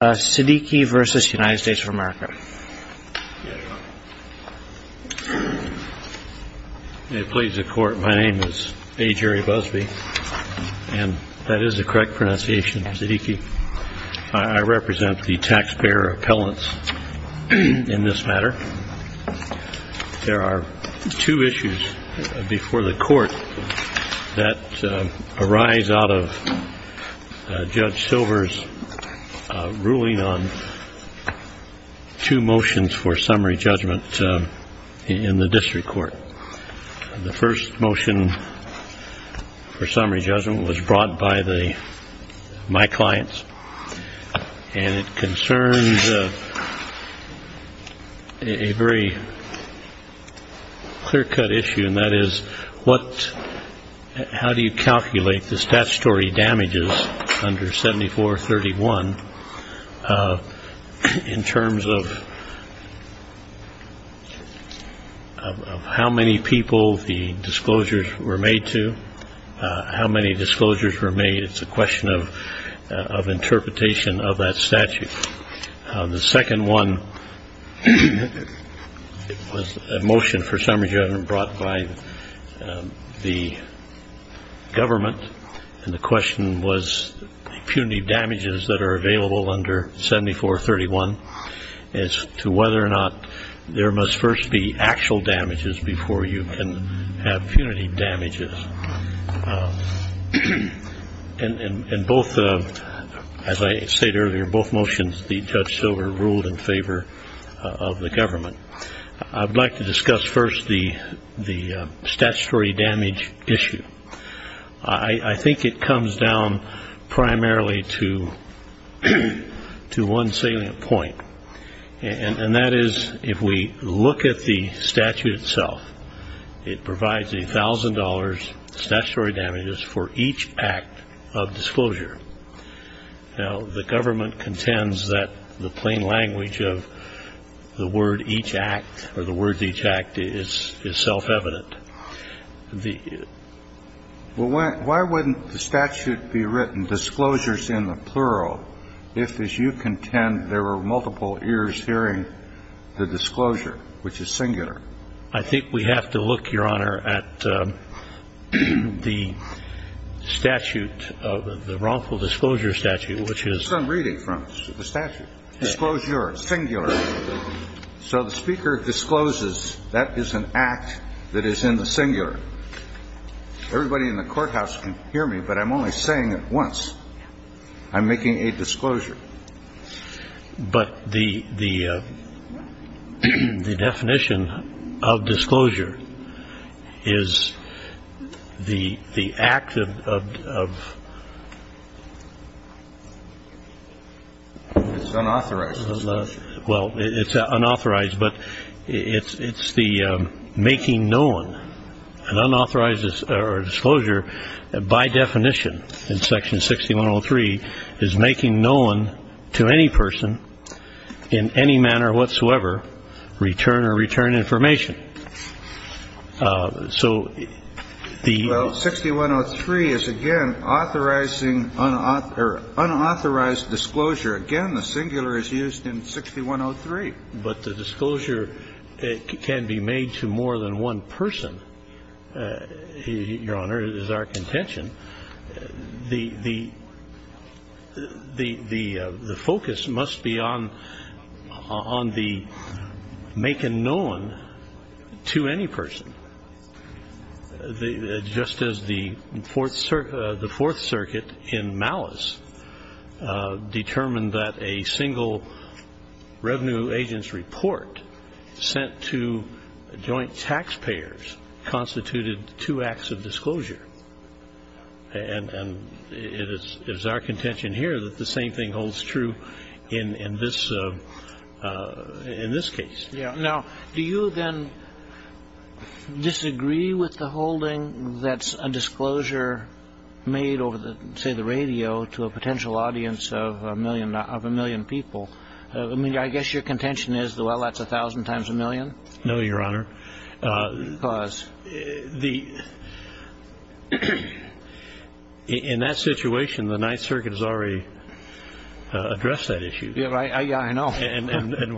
of America. May it please the Court, my name is A. Jerry Busbee, and that is the correct pronunciation, Siddiqui. I represent the taxpayer appellants in this matter. There are two issues before the Court that arise out of Judge Silver's ruling on two motions for summary judgment in the district court. The first motion for summary judgment was brought by my clients, and it concerns a very clear-cut issue, and that is, how do you calculate the statutory damages under 7431 in terms of how many people the disclosures were made to? How many disclosures were made? It's a question of interpretation of that statute. The second one was a motion for summary judgment brought by the government, and the question was the punitive damages that are available under 7431 as to whether or not there must first be actual damages before you can have punitive damages. In both, as I stated earlier, both motions, Judge Silver ruled in favor of the government. I'd like to discuss first the statutory damage issue. I think it comes down primarily to one salient point, and that is, if we look at the statute itself, it provides $1,000 statutory damages for each act of disclosure. Now, the government contends that the plain language of the word each act or the words each act is self-evident. Why wouldn't the statute be written, disclosures in the plural, if, as you contend, there were multiple ears hearing the statute, the wrongful disclosure statute, which is the statute, disclosure, singular. So the speaker discloses that is an act that is in the singular. Everybody in the courthouse can hear me, but I'm only saying it once. I'm making a disclosure. But the definition of disclosure is the act of unauthorized. Well, it's unauthorized, but it's the making known. An unauthorized or disclosure, by definition, in section 6103, is making known to any person in any manner whatsoever return or return information. So the 6103 is, again, authorizing unauthorized disclosure. Again, the singular is used in 6103. But the disclosure can be made to more than one person, Your Honor, is our contention. The focus must be on the making known to any person. Just as the Fourth Circuit in Malice determined that a single revenue agent's report sent to joint taxpayers constituted two acts of disclosure. And it is our contention here that the same thing holds true in this case. Now, do you then disagree with the holding that's a disclosure made over, say, the radio to a potential audience of a million people? I guess your contention is, well, that's a thousand times a million? No, Your Honor. Because? In that situation, the Ninth Circuit has already addressed that issue. Yeah, I know. And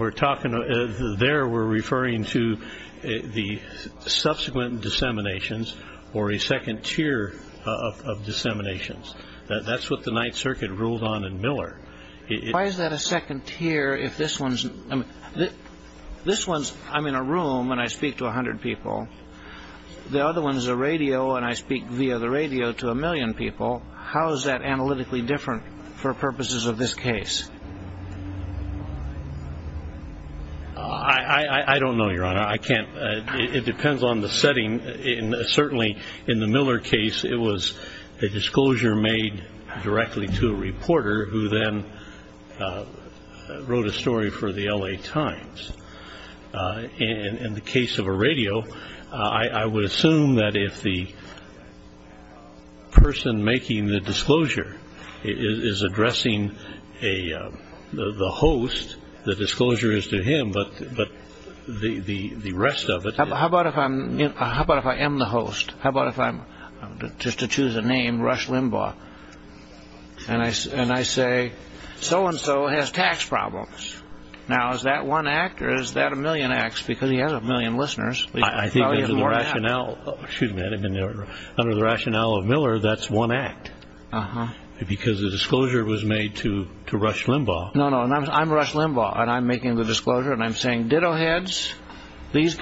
there we're referring to the subsequent disseminations or a second tier of disseminations. That's what the Ninth Circuit ruled on in Miller. Why is that a second tier if this one's, I mean, this one's, I'm in a room and I speak to a hundred people. The other one's a radio and I speak via the radio to a million people. How is that analytically different for purposes of this case? I don't know, Your Honor. I can't. It depends on the setting. Certainly in the Miller case, it was a disclosure made directly to a reporter who then wrote a story for the L.A. Times. In the case of a radio, I would assume that if the person making the disclosure is addressing the host, the disclosure is to him. But the rest of it. How about if I am the host? Just to choose a name, Rush Limbaugh. And I say, so and so has tax problems. Now, is that one act or is that a million acts? Because he has a million listeners. I think under the rationale of Miller, that's one act. Because the disclosure was made to Rush Limbaugh. No, no. I'm Rush Limbaugh and I'm making the disclosure and I'm saying, ditto heads, this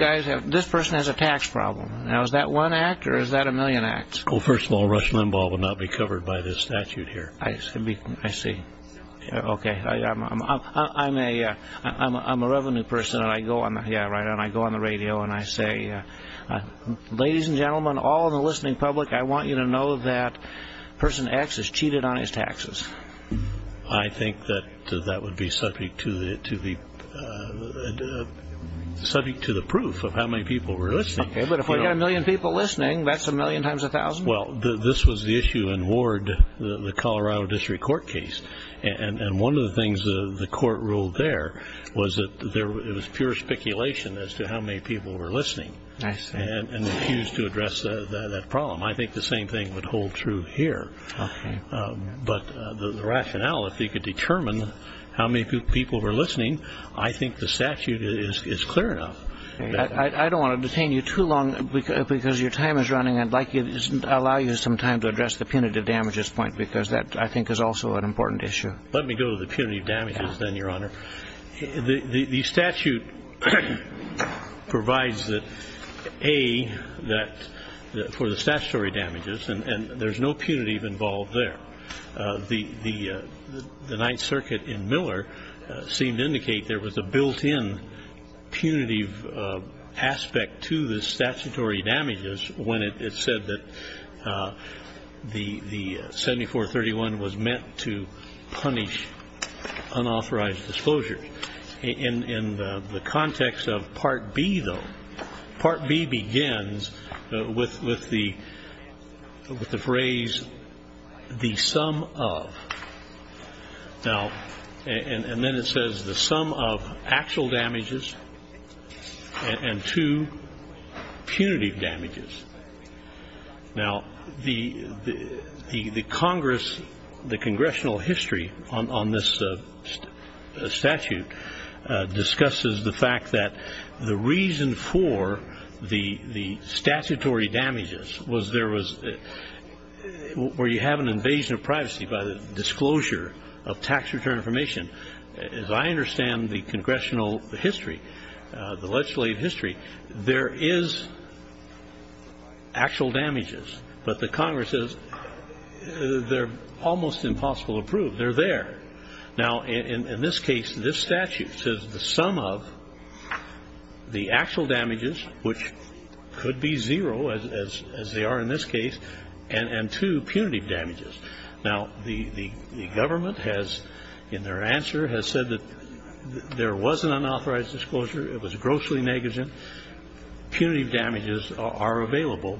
person has a tax problem. Now, is that one act or is that a million acts? Well, first of all, Rush Limbaugh would not be covered by this statute here. I see. Okay. I'm a revenue person and I go on the radio and I say, ladies and gentlemen, all the listening public, I want you to know that person X has cheated on his taxes. I think that that would be subject to the subject to the proof of how many people were listening. But if I got a million people listening, that's a million times a thousand. Well, this was the issue in Ward, the Colorado District Court case. And one of the things the court ruled there was that there was pure speculation as to how many people were listening. And refused to address that problem. I think the same thing would hold true here. But the rationale, if you could determine how many people were listening, I think the statute is clear enough. I don't want to detain you too long because your time is running. I'd like to allow you some time to address the punitive damages point, because that, I think, is also an important issue. Let me go to the punitive damages then, Your Honor. The statute provides that, A, that for the statutory damages, and there's no punitive involved there. The Ninth Circuit in Miller seemed to indicate there was a built-in punitive aspect to the statutory damages when it said that the 7431 was meant to punish unauthorized disclosure. In the context of Part B, though, Part B begins with the phrase, the sum of. Now, and then it says the sum of actual damages and two punitive damages. Now, the Congress, the Congressional history on this statute discusses the fact that the reason for the statutory damages was there was, where you have an invasion of privacy by the disclosure of tax return information. As I understand the Congressional history, the legislative history, there is actual damages, but the Congress says they're almost impossible to prove. They're there. Now, in this case, this statute says the sum of the actual damages, which could be zero, as they are in this case, and two punitive damages. Now, the government has, in their answer, has said that there was an unauthorized disclosure. It was grossly negligent. Punitive damages are available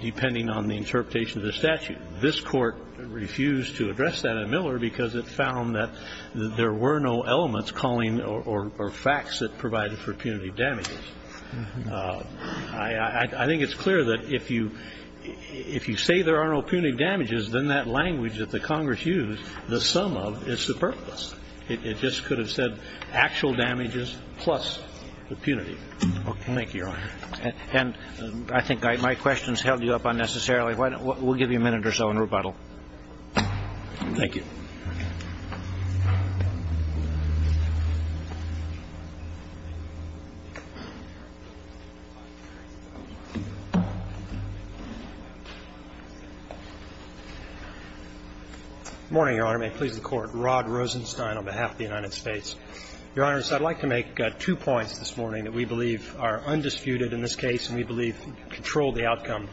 depending on the interpretation of the statute. This Court refused to address that in Miller because it found that there were no elements calling or facts that provided for punitive damages. I think it's clear that if you say there are no punitive damages, then that language that the Congress used, the sum of, is superfluous. It just could have said actual damages plus the punitive. Thank you, Your Honor. And I think my questions held you up unnecessarily. We'll give you a minute or so in rebuttal. Thank you. Good morning, Your Honor. May it please the Court. Rod Rosenstein on behalf of the United States. Your Honor, I'd like to make two points this morning that we believe are undisputed in this case and we believe control the outcome.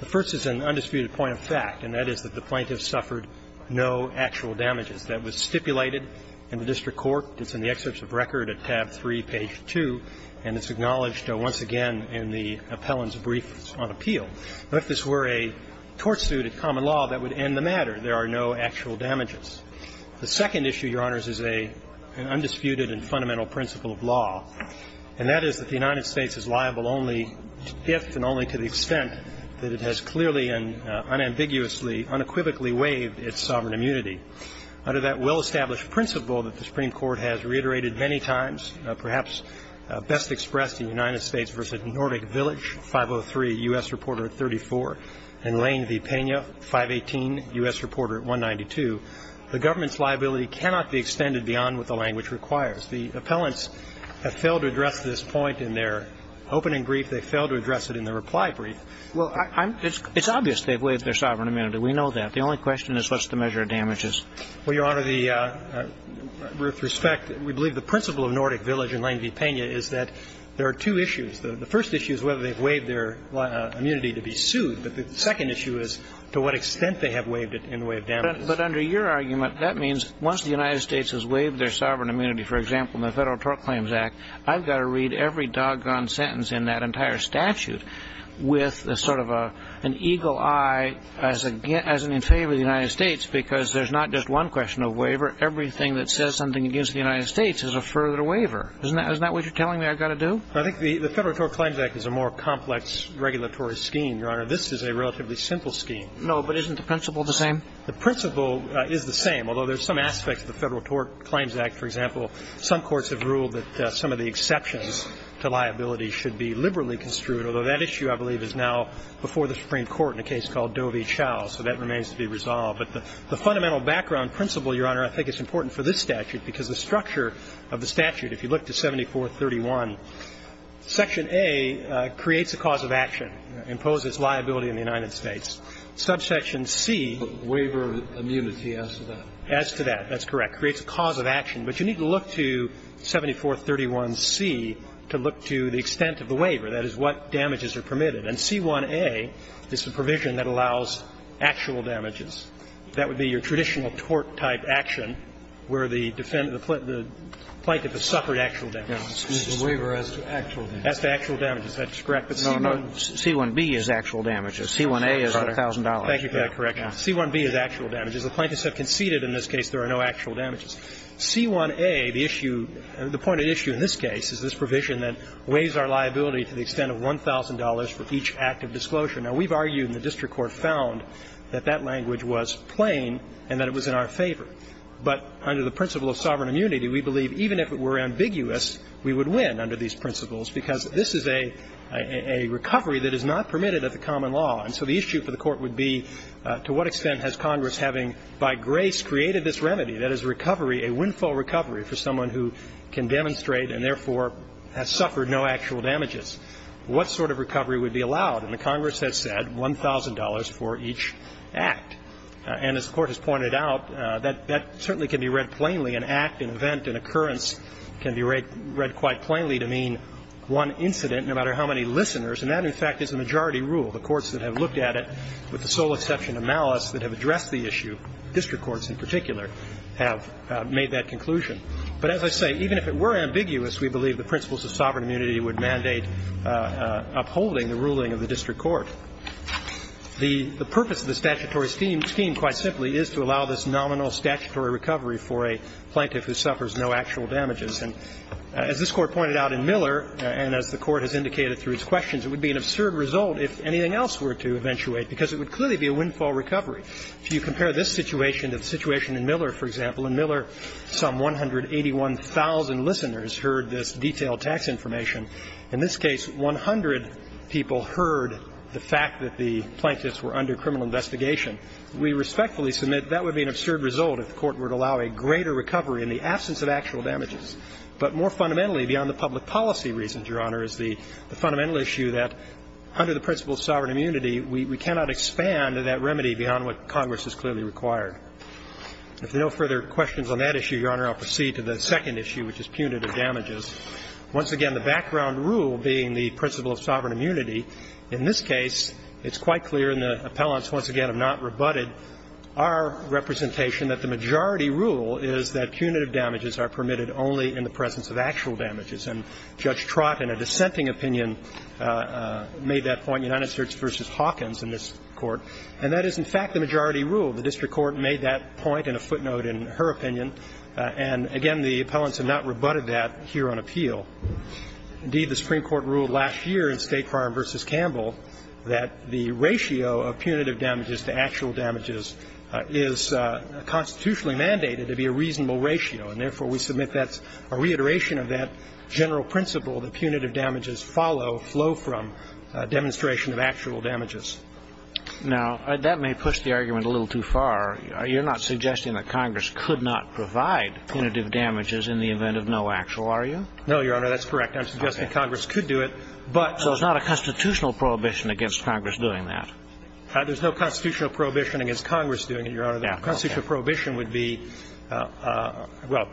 The first is an undisputed point of fact, and that is that the plaintiff suffered no actual damages. That was stipulated in the district court. It's in the excerpts of record at tab 3, page 2, and it's acknowledged once again in the appellant's brief on appeal. If this were a tort suit at common law, that would end the matter. There are no actual damages. The second issue, Your Honors, is an undisputed and fundamental principle of law, and that is that the United States is liable only if and only to the extent that it has clearly and unambiguously, unequivocally waived its sovereign immunity. Under that well-established principle that the Supreme Court has reiterated many times, perhaps best expressed in United States v. Nordic Village, 503, U.S. Reporter at 34, and Lane v. Pena, 518, U.S. Reporter at 192, the government's liability cannot be extended beyond what the language requires. And so, Your Honors, the appellants have failed to address this point in their opening brief. They failed to address it in their reply brief. Well, I'm – it's obvious they've waived their sovereign immunity. We know that. The only question is, what's the measure of damages? Well, Your Honor, the – with respect, we believe the principle of Nordic Village and Lane v. Pena is that there are two issues. The first issue is whether they've waived their immunity to be sued, but the second issue is to what extent they have waived it in the way of damages. But under your argument, that means once the United States has waived their sovereign immunity, for example, in the Federal Tort Claims Act, I've got to read every doggone sentence in that entire statute with sort of an eagle eye as in favor of the United States, because there's not just one question of waiver. Everything that says something against the United States is a further waiver. Isn't that what you're telling me I've got to do? I think the Federal Tort Claims Act is a more complex regulatory scheme, Your Honor. This is a relatively simple scheme. No, but isn't the principle the same? The principle is the same, although there's some aspects of the Federal Tort Claims Act, for example, some courts have ruled that some of the exceptions to liability should be liberally construed, although that issue, I believe, is now before the Supreme Court in a case called Doe v. Chau, so that remains to be resolved. But the fundamental background principle, Your Honor, I think is important for this statute, because the structure of the statute, if you look to 7431, Section A creates a cause of action, imposes liability on the United States. Subsection C. But waiver immunity as to that. As to that. That's correct. It creates a cause of action. But you need to look to 7431C to look to the extent of the waiver, that is, what damages are permitted. And C1a is the provision that allows actual damages. That would be your traditional tort-type action where the defendant, the plaintiff has suffered actual damages. The waiver as to actual damages. As to actual damages. That's correct. No, C1b is actual damages. C1a is $1,000. Thank you for that correction. C1b is actual damages. The plaintiffs have conceded in this case there are no actual damages. C1a, the issue, the pointed issue in this case is this provision that weighs our liability to the extent of $1,000 for each act of disclosure. Now, we've argued and the district court found that that language was plain and that it was in our favor. But under the principle of sovereign immunity, we believe even if it were ambiguous, we would win under these principles, because this is a recovery that is not permitted at the common law. And so the issue for the Court would be to what extent has Congress having by grace created this remedy that is recovery, a windfall recovery for someone who can demonstrate and therefore has suffered no actual damages. What sort of recovery would be allowed? And the Congress has said $1,000 for each act. And as the Court has pointed out, that certainly can be read plainly. An act, an event, an occurrence can be read quite plainly to mean one incident no matter how many listeners. And that, in fact, is a majority rule. The courts that have looked at it, with the sole exception of Malice, that have addressed the issue, district courts in particular, have made that conclusion. But as I say, even if it were ambiguous, we believe the principles of sovereign immunity would mandate upholding the ruling of the district court. The purpose of the statutory scheme, quite simply, is to allow this nominal statutory recovery for a plaintiff who suffers no actual damages. And as this Court pointed out in Miller and as the Court has indicated through its questions, it would be an absurd result if anything else were to eventuate, because it would clearly be a windfall recovery. If you compare this situation to the situation in Miller, for example, in Miller some 181,000 listeners heard this detailed tax information. In this case, 100 people heard the fact that the plaintiffs were under criminal investigation. We respectfully submit that would be an absurd result if the Court would allow a greater recovery in the absence of actual damages. But more fundamentally, beyond the public policy reasons, Your Honor, is the fundamental issue that under the principle of sovereign immunity, we cannot expand that remedy beyond what Congress has clearly required. If there are no further questions on that issue, Your Honor, I'll proceed to the second issue, which is punitive damages. Once again, the background rule being the principle of sovereign immunity, in this case, it's quite clear, and the appellants once again have not rebutted our representation that the majority rule is that punitive damages are permitted only in the presence of actual damages. And Judge Trott, in a dissenting opinion, made that point, United States v. Hawkins in this Court. And that is, in fact, the majority rule. The district court made that point in a footnote in her opinion. And again, the appellants have not rebutted that here on appeal. Indeed, the Supreme Court ruled last year in State Farm v. Campbell that the ratio of punitive damages to actual damages is constitutionally mandated to be a reasonable ratio, and therefore we submit that's a reiteration of that general principle that punitive damages follow, flow from demonstration of actual damages. Now, that may push the argument a little too far. You're not suggesting that Congress could not provide punitive damages in the event of no actual, are you? No, Your Honor, that's correct. I'm suggesting Congress could do it, but so it's not a constitutional prohibition against Congress doing that. There's no constitutional prohibition against Congress doing it, Your Honor. Constitutional prohibition would be, well,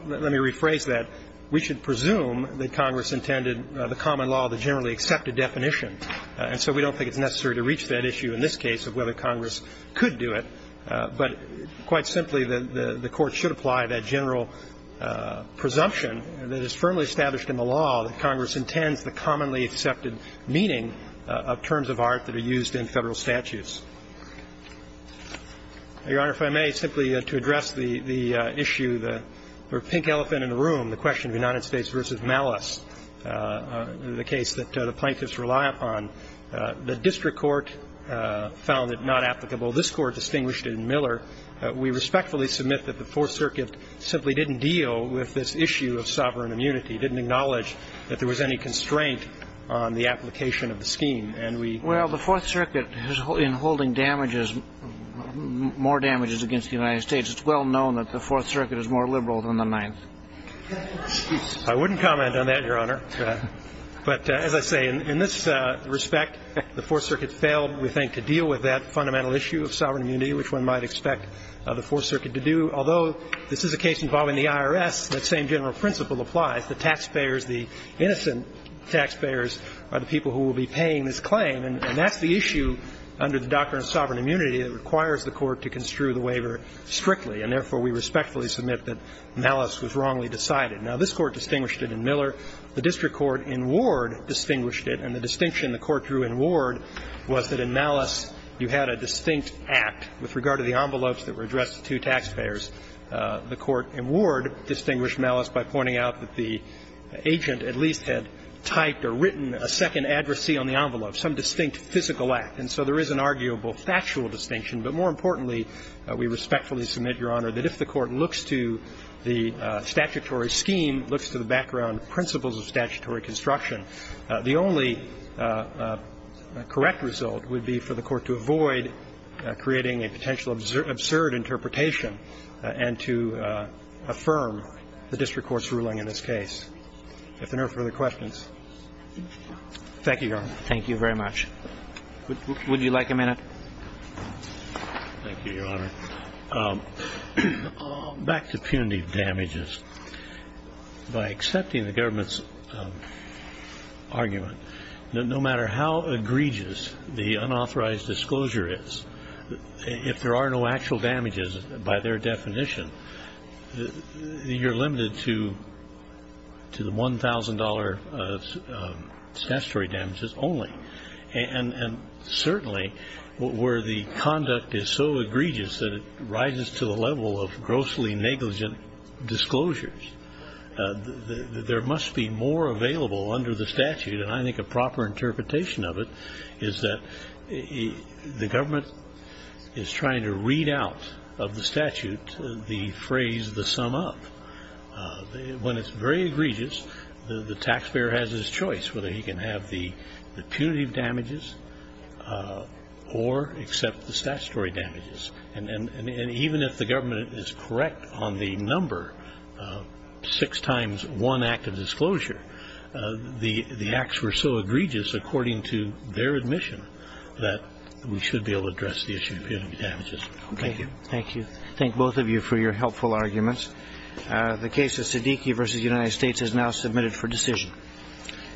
let me rephrase that. We should presume that Congress intended the common law, the generally accepted definition. And so we don't think it's necessary to reach that issue in this case of whether Congress could do it. But quite simply, the Court should apply that general presumption that is firmly established in the law that Congress intends the commonly accepted meaning of terms of art that are used in Federal statutes. Your Honor, if I may, simply to address the issue, the pink elephant in the room, the question of United States v. Malice, the case that the plaintiffs rely upon. The district court found it not applicable. This Court distinguished it in Miller. We respectfully submit that the Fourth Circuit simply didn't deal with this issue of sovereign immunity, didn't acknowledge that there was any constraint on the application of the scheme. Well, the Fourth Circuit, in holding damages, more damages against the United States, it's well known that the Fourth Circuit is more liberal than the Ninth. I wouldn't comment on that, Your Honor. But as I say, in this respect, the Fourth Circuit failed, we think, to deal with that fundamental issue of sovereign immunity, which one might expect the Fourth Circuit to do. Although this is a case involving the IRS, that same general principle applies. The taxpayers, the innocent taxpayers, are the people who will be paying this claim. And that's the issue under the doctrine of sovereign immunity that requires the Court to construe the waiver strictly. And therefore, we respectfully submit that malice was wrongly decided. Now, this Court distinguished it in Miller. The district court in Ward distinguished it. And the distinction the Court drew in Ward was that in malice you had a distinct act. With regard to the envelopes that were addressed to taxpayers, the Court in Ward distinguished malice by pointing out that the agent at least had typed or written a second addressee on the envelope, some distinct physical act. And so there is an arguable factual distinction. But more importantly, we respectfully submit, Your Honor, that if the Court looks to the statutory scheme, looks to the background principles of statutory construction, the only correct result would be for the Court to avoid creating a potential absurd interpretation and to affirm the district court's ruling in this case. If there are no further questions. Thank you, Your Honor. Thank you very much. Would you like a minute? Thank you, Your Honor. Back to punitive damages. By accepting the government's argument that no matter how egregious the unauthorized disclosure is, if there are no actual damages by their definition, you're limited to the $1,000 statutory damages only. And certainly where the conduct is so egregious that it rises to the level of grossly negligent disclosures, there must be more available under the statute, and I think a proper interpretation of it is that the government is trying to read out of the statute the phrase, the sum up. When it's very egregious, the taxpayer has his choice whether he can have the punitive damages or accept the statutory damages. And even if the government is correct on the number six times one active disclosure, the acts were so egregious according to their admission that we should be able to address the issue of punitive damages. Thank you. Thank you. Thank both of you for your helpful arguments. The case of Siddiqui v. United States is now submitted for decision.